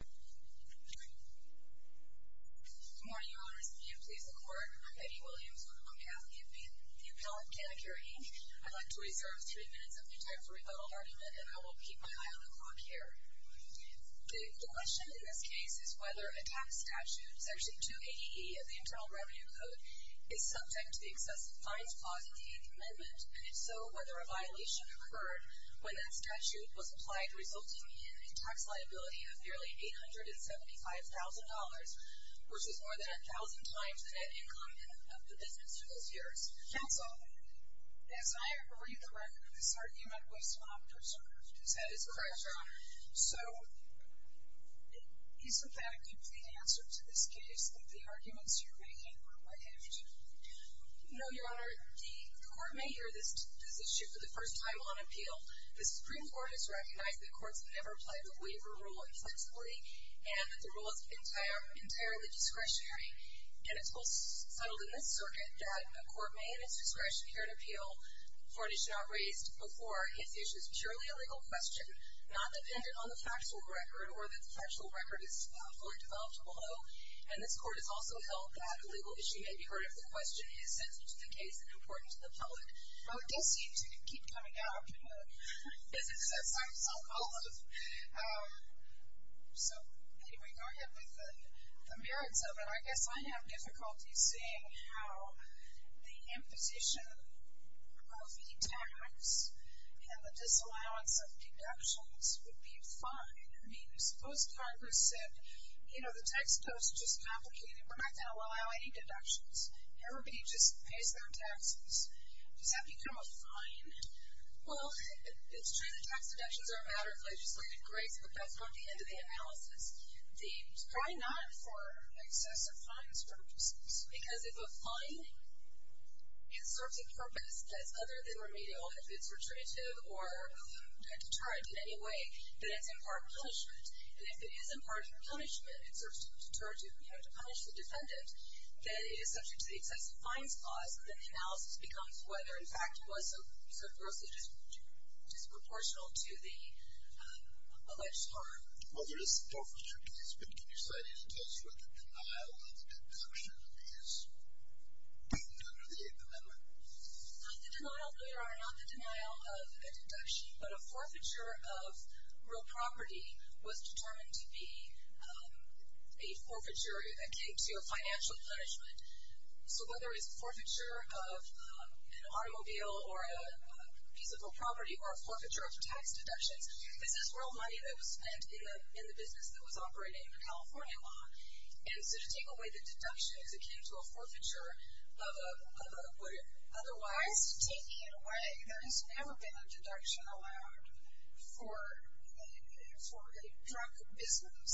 Good morning, Your Honors. May it please the Court, I'm Betty Williams with the Montgomery Athlete, Inc., the appellant, Canna Care, Inc. I'd like to reserve three minutes of my time for rebuttal argument, and I will keep my eye on the clock here. The question in this case is whether a tax statute, Section 2AEE of the Internal Revenue Code, is subject to the excessive fines clause of the Eighth Amendment, and if so, whether a violation occurred when that statute was applied, resulting in a tax liability of nearly $875,000, which is more than a thousand times the net income of the business in those years. Counsel, as I read the record, this argument was not preserved. Is that correct? Correct, Your Honor. So, is the fact of the answer to this case that the arguments you're making were waived? No, Your Honor. The Court may hear this issue for the first time on appeal. The Supreme Court has recognized that courts have never played the waiver rule inflexibly, and that the rule is entirely discretionary, and it's well settled in this circuit that a court may, in its discretion, hear an appeal for it is not raised before its issue is purely a legal question, not dependent on the factual record or that the factual record is fully developed below, and this Court has also held that a legal issue may be heard if the question is sensitive to the case and important to the public. Well, it does seem to keep coming up in the business of psychosocialism. So, anyway, going ahead with the merits of it, I guess I have difficulty seeing how the imposition of e-tax and the disallowance of deductions would be fine. I mean, suppose Congress said, you know, the tax code is just complicated. We're not going to allow any deductions. Everybody just pays their taxes. Does that become a fine? Well, it's true that tax deductions are a matter of legislative grace, but that's not the end of the analysis. The, try not for excessive fines purposes, because if a fine serves a purpose that's other than remedial, if it's retributive or deterrent in any way, then it's in part punishment. And if it is in part punishment, it serves to punish the defendant, then it is subject to the excessive fines clause, and then the analysis becomes whether, in fact, it was so grossly disproportional to the alleged harm. Well, there is a forfeiture case, but can you cite any case where the denial of a deduction is under the Eighth Amendment? Not the denial, Your Honor, not the denial of a deduction, but a forfeiture of real property was determined to be a forfeiture that came to a financial punishment. So whether it's a forfeiture of an automobile or a piece of real property or a forfeiture of tax deductions, this is real money that was spent in the business that was operating in the California law. And so to take away the deduction is akin to a forfeiture of a, otherwise. Why is he taking it away? There has never been a deduction allowed for a drug business.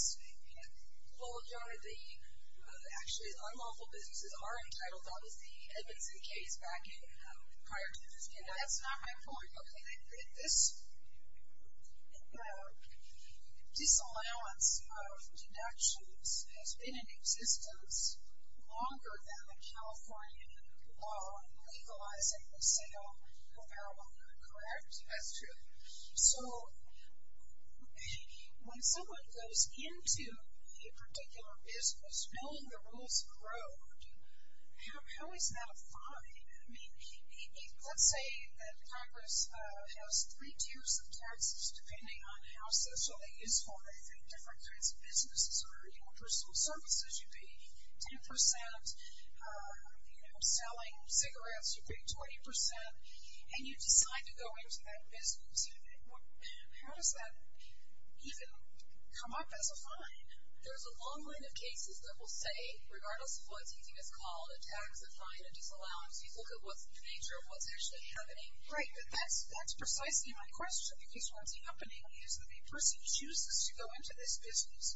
Well, Your Honor, the, actually, unlawful businesses are entitled, that was the Edmondson case back in, prior to this. That's not my point. Okay, this disallowance of deductions has been in existence longer than the California law legalizing the sale of marijuana, correct? That's true. So when someone goes into a particular business knowing the rules of the road, how is that a fine? I mean, let's say that Congress has three tiers of taxes depending on how socially useful they think different kinds of businesses are. You know, personal services, you pay 10 percent. You know, selling cigarettes, you pay 20 percent. And you decide to go into that business. How does that even come up as a fine? There's a long line of cases that will say, regardless of what you think is called a tax fine, a disallowance, you look at what's the nature of what's actually happening. Right, but that's precisely my question, because what's happening is that the person chooses to go into this business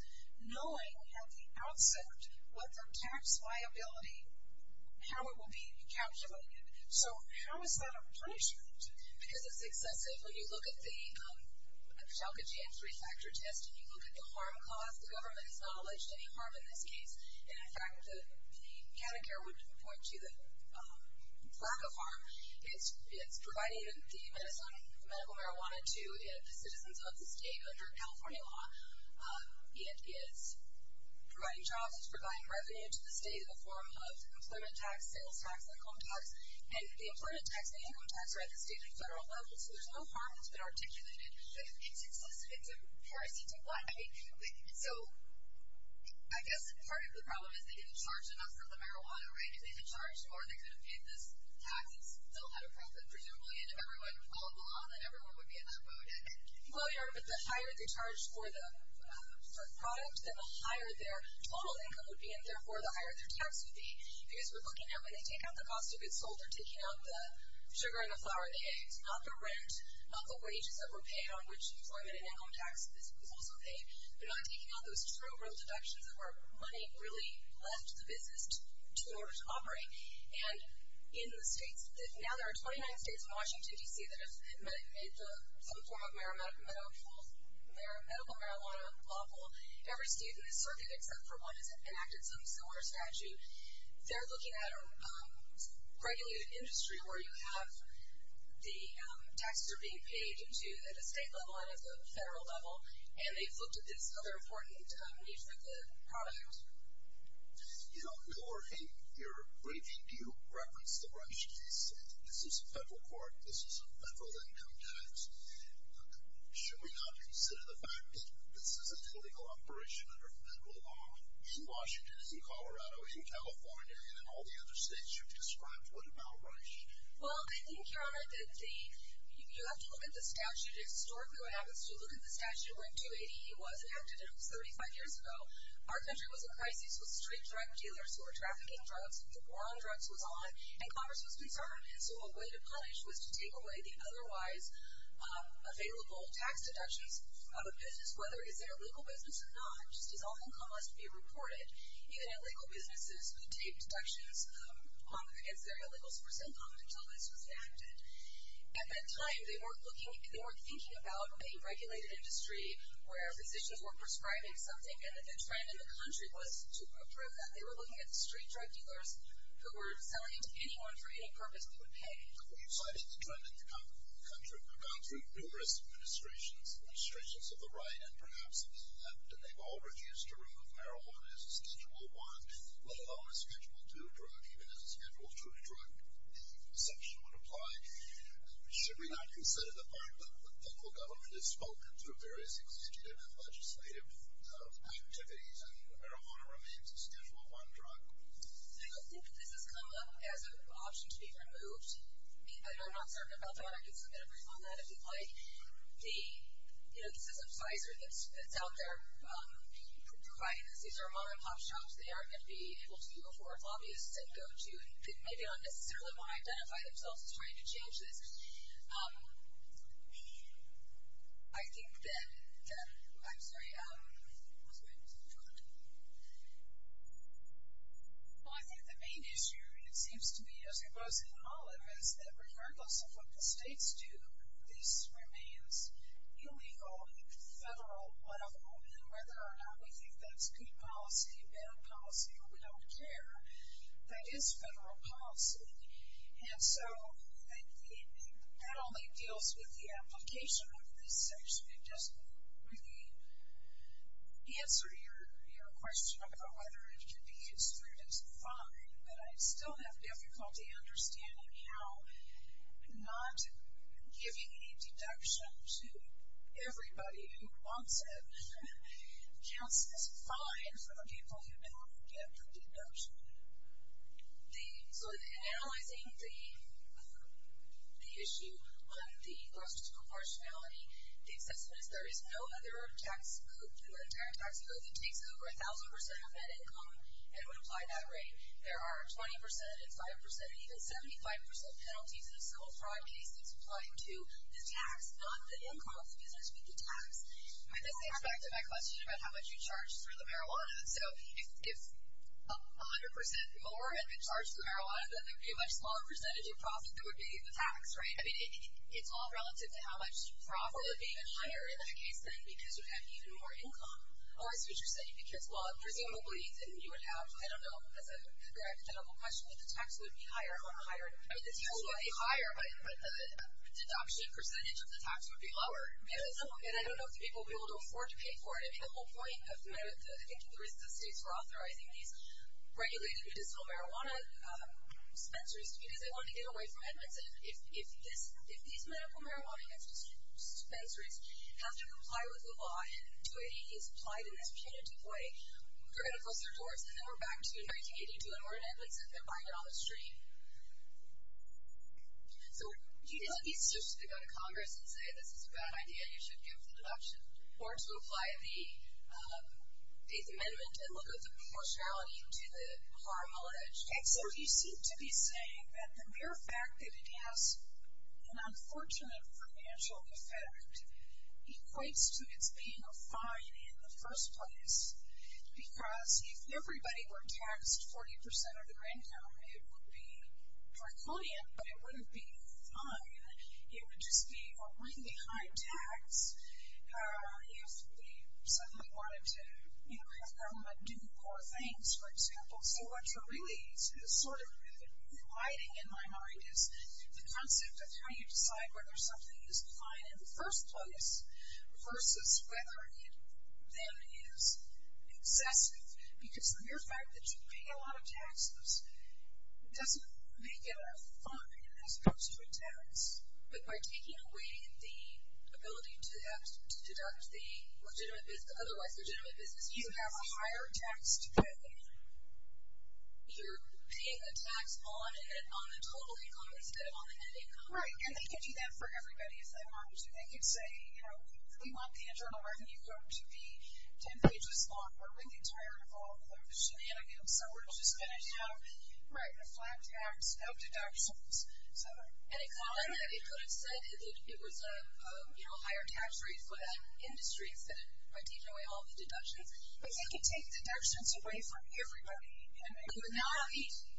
knowing at the outset what their tax liability, how it will be calculated. So how is that a punishment? Because it's excessive. When you look at the Petalka GM three-factor test and you look at the harm caused, the government has not alleged any harm in this case. And in fact, the Canada Care would point to the lack of harm. It's providing the medicine, the medical marijuana, to the citizens of the state under California law. It is providing jobs. It's providing revenue to the state in the form of employment tax, sales tax, income tax. And the employment tax and the income tax are at the state and federal level, so there's no harm that's been articulated. But it's excessive. It's a parasite. So I guess part of the problem is they didn't charge enough for the marijuana, right? If they had charged more, they could have paid this tax and still had a profit, presumably. And if everyone followed the law, then everyone would be in that mode. Well, yeah, but the higher they charged for the product, then the higher their total income would be, and therefore the higher their tax would be. Because we're looking at when they take out the cost of goods sold, they're taking out the sugar and the flour they ate, not the rent, not the wages that were paid on which employment and income tax was also paid. They're not taking out those true real deductions of where money really left the business in order to operate. And in the states, now there are 29 states and Washington, D.C. that have made some form of medical marijuana lawful. Every student has certainly, except for one, has enacted some similar strategy. They're looking at a regulated industry where you have the taxes are being paid at the state level and at the federal level, and they've adopted this other important need for the product. You know, Laura, in your briefing, do you reference the Rush case? This is a federal court. This is a federal income tax. Should we not consider the fact that this is a legal operation under federal law in Washington, in Colorado, in California, and in all the other states you've described? What about Rush? Well, I think, Your Honor, that you have to look at the statute. Historically, what happens is you look at the statute where 280E was enacted, and it was 35 years ago. Our country was in crisis with street drug dealers who were trafficking drugs. The war on drugs was on, and Congress was concerned, and so a way to punish was to take away the otherwise available tax deductions of a business, whether it's their legal business or not. Just as all income must be reported, even illegal businesses who take deductions against their illegals for so long until this was enacted. At that time, they weren't looking, they weren't thinking about a regulated industry where physicians were prescribing something, and the trend in the country was to approve that. They were looking at the street drug dealers who were selling to anyone for any purpose they would pay. Well, you've cited the trend in the country. We've gone through numerous administrations, administrations of the right and perhaps of the left, and they've all refused to remove the section would apply. Should we not consider the part that local government has spoken through various executive and legislative activities, and marijuana remains a Schedule I drug? I don't think that this has come up as an option to be removed. I know I'm not certain about that. I can submit a brief on that if you'd like. The system spicer that's out there providing this, these are mom-and-pop shops. They are going to be able to go for lobbyists and go to, and maybe not necessarily want to identify themselves as trying to change this. I think that, yeah, I'm sorry. Well, I think the main issue, and it seems to be as it was in Olive, is that regardless of what the states do, this remains illegal, federal, whatever, and whether or not we think that's good policy, bad policy, or we don't care, that is federal policy, and so that only deals with the application of this section. It doesn't really answer your question about whether it can be construed as fine, but I still have difficulty understanding how not giving a deduction to everybody who wants it counts as fine for the people who don't get the deduction. So in analyzing the issue on the gross proportionality, the assessment is there is no other tax code in the entire tax code that takes over 1,000% of net income and would apply that rate. There are 20% and 5% and even 75% penalties in a civil fraud case that's applying to the tax, not the income, because I speak to tax. And this gets back to my question about how much you charge for the marijuana. So if 100% more had been charged for marijuana, then there would be a much smaller percentage of profit that would be the tax, right? I mean, it's all relative to how much profit would be even higher in that case, then, because you'd have even more income. Or I see what you're saying, because, well, presumably, then you would have, I don't know, as a direct medical question, that the tax would be higher or higher. I mean, the tax would be higher, but the deduction percentage of the tax would be lower. And I don't know if the people would be able to afford to pay for it. I mean, the whole point of, I think, the reasons the states were authorizing these regulated medicinal marijuana dispensaries to be, because they wanted to get away from Edmonds. If these medical marijuana dispensaries have to comply with the law, and 280 is applied in this punitive way, they're going to close their doors. And then we're back to 1982, and we're in Edmonds, and they're buying it on the street. So, he doesn't need to go to Congress and say, this is a bad idea, you should give the deduction. Or to apply the Eighth Amendment and look at the proportionality to the harm alleged. And so, you seem to be saying that the mere fact that it has an unfortunate financial effect equates to its being a fine in the first place. Because if everybody were taxed 40% of their income, it would be draconian, but it wouldn't be fine. It would just be a ring behind tax if we suddenly wanted to have government do poor things, for example. So, what you're really sort of inviting in my mind is the concept of how you decide whether something is fine in the first place versus whether it then is excessive. Because the mere fact that you pay a lot of taxes doesn't make it a fine as far as tax. But by taking away the ability to deduct the otherwise legitimate business, you have a higher tax to pay. You're paying a tax on the total income instead of on the net income. Right, and they could do that for everybody if they wanted to. They could say, you know, we want the internal revenue going to be 10 pages long. We're really tired of all of those shenanigans, so we're just going to have a flat tax, no deductions. Any comment that it could have said that it was a higher tax rate for that industry instead of by taking away all the deductions? If they could take deductions away from everybody and they could not,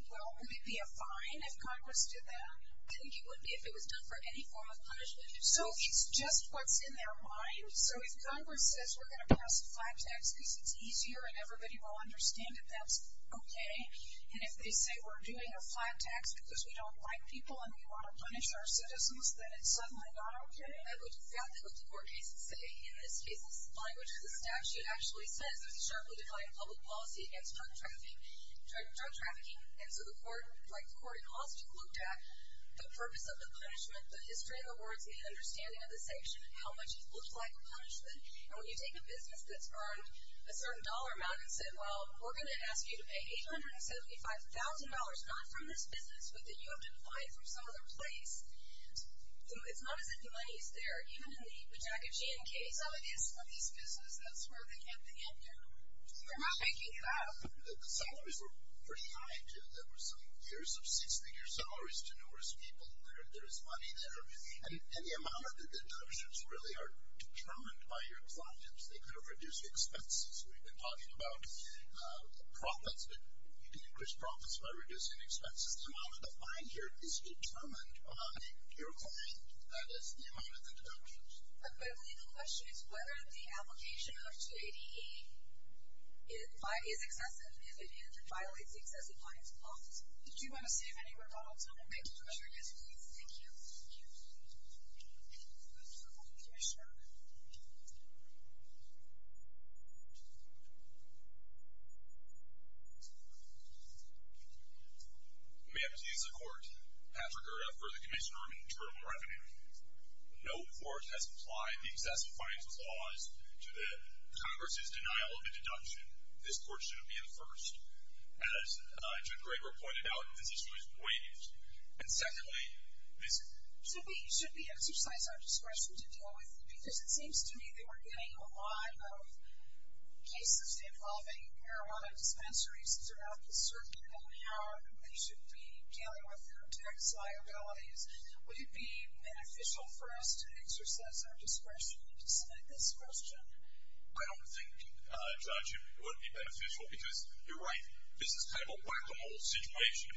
well, it would be a fine if Congress did that. I think it would be if it was done for any form of punishment. So it's just what's in their mind. So if Congress says we're going to pass a flat tax because it's easier and everybody will understand it, that's okay. And if they say we're doing a flat tax because we don't like people and we want to punish our citizens, then it's suddenly not okay. I would doubt that what the court cases say. In this case, the language of the statute actually says there's a sharply defined public policy against drug trafficking. And so the court, like the court in Austin, looked at the purpose of the punishment, the history of the words, and the understanding of the sanction and how much it looked like a punishment. And when you take a business that's earned a certain dollar amount and said, well, we're going to ask you to pay $875,000 not from this business, but that you have to buy it from some other place, it's not as if money's there. Even in the Jack and Jane case, some of these businesses, that's where they can't pay it. They're not making it up. The salaries were pretty high, too. There were some years of six-figure salaries to numerous people. There's money there. And the amount of deductions really are determined by your clients. They could have reduced expenses. We've been talking about profits, but you can increase profits by reducing expenses. The amount of the fine here is determined by your client, that is, the amount of deductions. Equivalently, the question is whether the application of J.D.E. is excessive and if it is, it violates the excessive fines clause. Did you want to say if anyone brought up something? Yes, please. Thank you. Thank you. Thank you, sir. May I please have the court have regard for the Commissioner of Internal Revenue. No court has applied the excessive fines clause to the Congress' denial of a deduction. This court shouldn't be the first. As Judge Graber pointed out, this issue is waived. And secondly, this... Should we exercise our discretion to deal with it? Because it seems to me they were getting a lot of cases involving marijuana dispensaries throughout the circuit and how they should be dealing with their tax liabilities. Would it be beneficial for us to exercise our discretion to submit this question? I don't think, Judge, it would be beneficial because you're right, this is kind of a black and mole situation.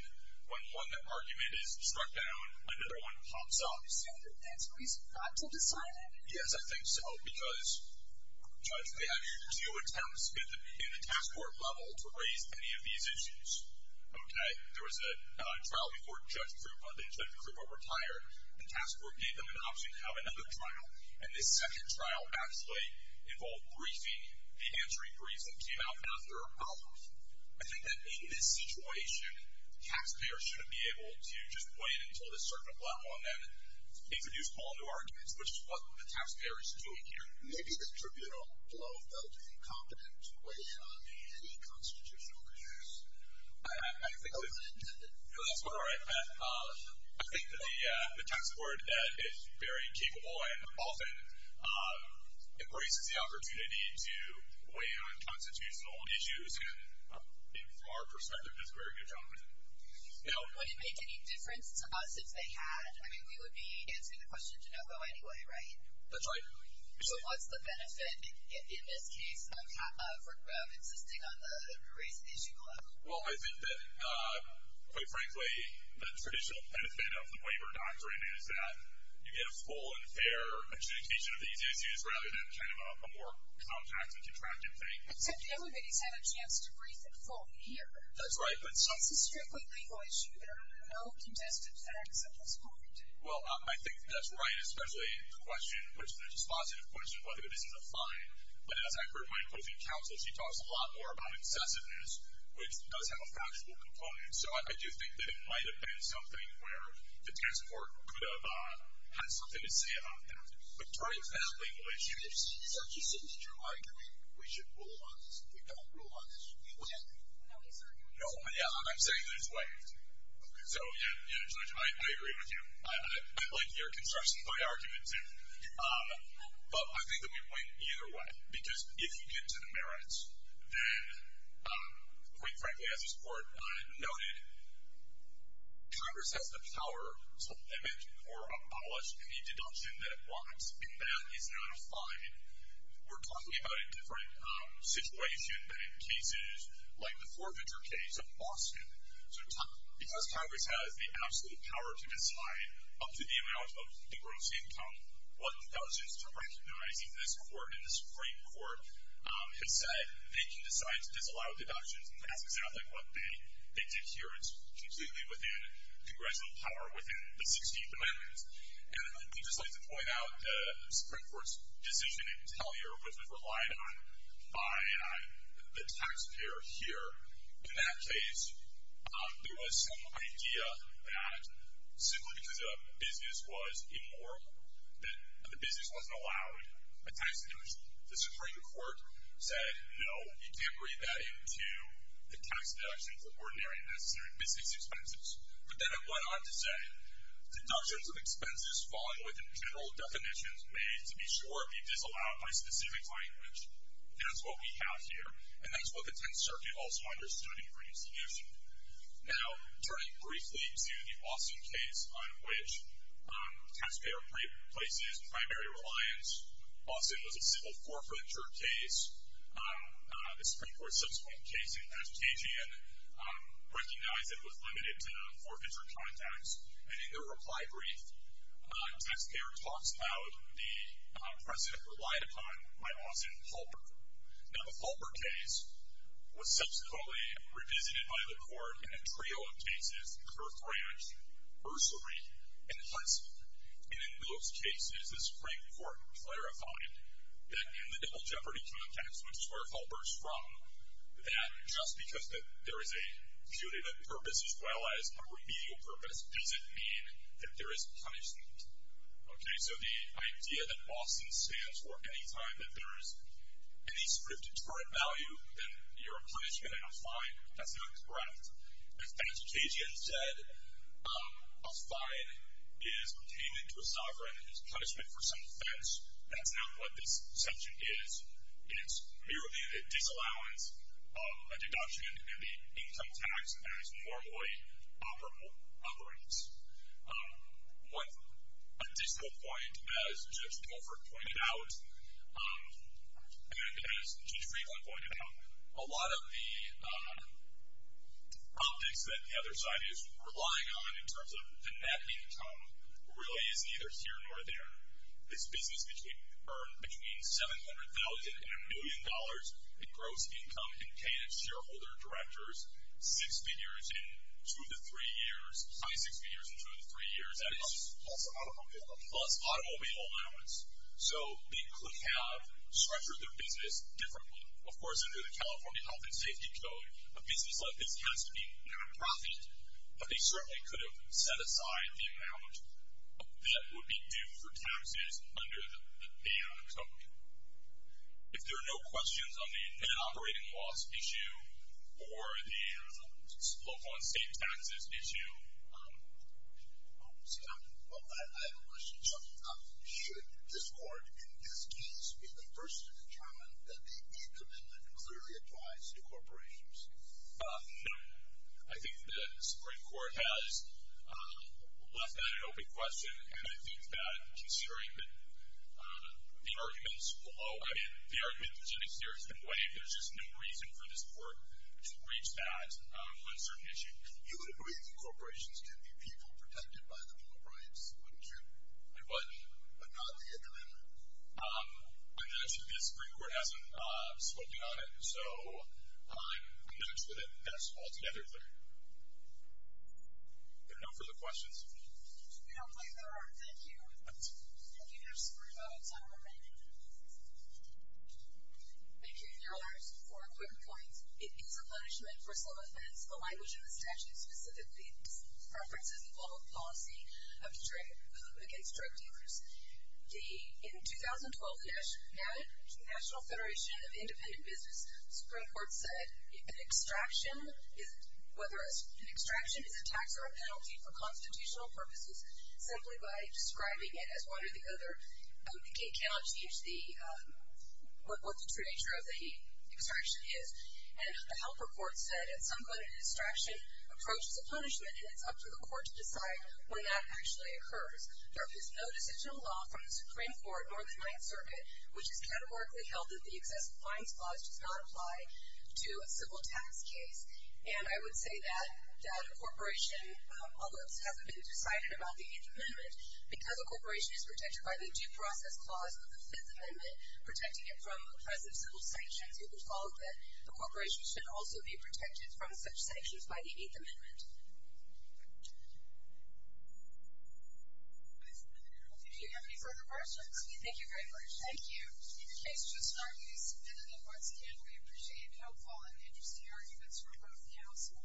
When one argument is struck down, another one pops up. So that's a reason not to decide it? Yes, I think so, because, Judge, they had two attempts in the task force level to raise any of these issues. Okay? There was a trial before Judge Krupa, Judge Krupa retired, the task force gave them an option to have another trial, and this second trial actually involved briefing, the answering briefs that came out after hours. I think that in this situation, taxpayers shouldn't be able to just wait until the circuit went well and then introduce whole new arguments, which is what the taxpayer is doing here. Maybe the tribunal below felt incompetent to weigh in on any constitutional issues. I think... No, that's not right, Pat. I think that the tax board is very capable and often embraces the opportunity to weigh in on constitutional issues and, from our perspective, does a very good job of it. Now... Would it make any difference to us if they had? I mean, we would be answering the question to no go anyway, right? That's right. But what's the benefit in this case of insisting on the raised issue level? Well, I think that, quite frankly, the traditional benefit of the waiver doctrine is that you get a more simple and fair adjudication of these issues rather than kind of a more compact and contractive thing. Except that everybody's had a chance to brief in full here. That's right, but... It's a strictly legal issue. There are no contested facts at this point. Well, I think that's right, especially in the question, which is a positive question, whether this is a fine, but as I heard my opposing counsel, she talks a lot more about incessantness, which does have a factual component. So I do think that it might have been something where the task force could have had something to say about that. But during that legal issue... If she is actually sitting at your argument, we should rule on this. If we don't rule on this, we win. No, he's arguing this way. No, I'm saying this way. So, yeah, Judge, I agree with you. I like your construction by argument, too. But I think that we win either way, because if you get to the merits, then, quite frankly, as this Court noted, Congress has the power to limit or abolish any deduction that it wants, and that is not a fine. We're talking about a different situation than in cases like the forfeiture case of Boston. So because Congress has the absolute power to decide up to the amount of the gross income, well, that was just recognizing this Court and the Supreme Court has said they can decide to disallow deductions, and that's exactly what they did here. It's completely within Congressional power within the 16th Amendment. And I would just like to point out the Supreme Court's decision in Tellier, which was relied on by the taxpayer here. In that case, there was some idea that simply because a business was immoral, that the business wasn't allowed a tax deduction. The Supreme Court said, no, you can't read that into the tax deductions of ordinary and necessary business expenses. But then it went on to say, deductions of expenses falling within general definitions may, to be sure, be disallowed by specific language. That's what we have here, and that's what the Tenth Circuit also understood in the previous solution. Now, turning briefly to the Boston case on which taxpayer places primary reliance, Boston was a civil forfeiture case. The Supreme Court's subsequent case in Cascadian recognized it with limited forfeiture contacts. And in their reply brief, taxpayer talks about the precedent relied upon by Austin and Halpern. Now, the Halpern case was subsequently revisited by the Court in a trio of cases, Kurth Ranch, Bursary, and Huntsman. And in those cases, the Supreme Court clarified that in the double jeopardy context, which is where Halpern's from, that just because there is a punitive purpose as well as a remedial purpose doesn't mean that there is punishment. Okay, so the idea that Boston stands for any time that there is any sort of deterrent value, then you're a punishment and a fine. That's not correct. As Pat Cascadian said, a fine is payment to a sovereign and is punishment for some offense. That's not what this section is. It's merely the disallowance of a deduction in the income tax as normally operable otherwise. One additional point, as Judge Colford pointed out, and as Judge Friedland pointed out, a lot of the optics that the other side is relying on in terms of enacting income really is neither here nor there. This business earned between $700,000 and a million dollars in gross income in payment of shareholder directors, six figures in two of the three years, five six figures in two of the three years. Plus automobile allowance. Plus automobile allowance. So they could have structured their business differently. Of course, under the California Health and Safety Code, a business like this has to be non-profit, but they certainly could have set aside the amount that would be due for taxes under the code. If there are no questions on the net operating loss issue or the local and state taxes issue. See, I have a question. Should this Court, in this case, be the first to determine that the E-Commitment clearly applies to corporations? No. I think the Supreme Court has left that an open question, and I think that considering the arguments below, I mean, the arguments in this case have been waived. There's just no reason for this Court to reach that on a certain issue. You would agree that corporations can be people protected by the law of rights, wouldn't you? I would. But not the E-Commitment. Yes, the Supreme Court hasn't spoken on it. So I'm in touch with it. Yes, altogether. Good enough for the questions. If you don't mind, there are. Thank you. Thank you. There's three votes remaining. Thank you, Your Honors. Four quick points. It is a punishment for some offense. The language in the statute specifically preferences the public policy against drug dealers. In 2012, the National Federation of Independent Business, the Supreme Court said whether an extraction is a tax or a penalty for constitutional purposes, simply by describing it as one or the other, it cannot teach what the true nature of the extraction is. And the HELP report said at some point an extraction approaches a punishment, and it's up to the Court to decide when that actually occurs. There is no decisional law from the Supreme Court nor the Ninth Circuit which is categorically held that the excessive fines clause does not apply to a civil tax case. And I would say that a corporation, although it hasn't been decided about the E-Commitment, because a corporation is protected by the due process clause of the Fifth Amendment, protecting it from oppressive civil sanctions, it would follow that a corporation should also be protected from such sanctions by the Eighth Amendment. Do you have any further questions? Thank you very much. Thank you. The case just started. You submitted it once again. We appreciate it and hope all of the interesting arguments from both counsel.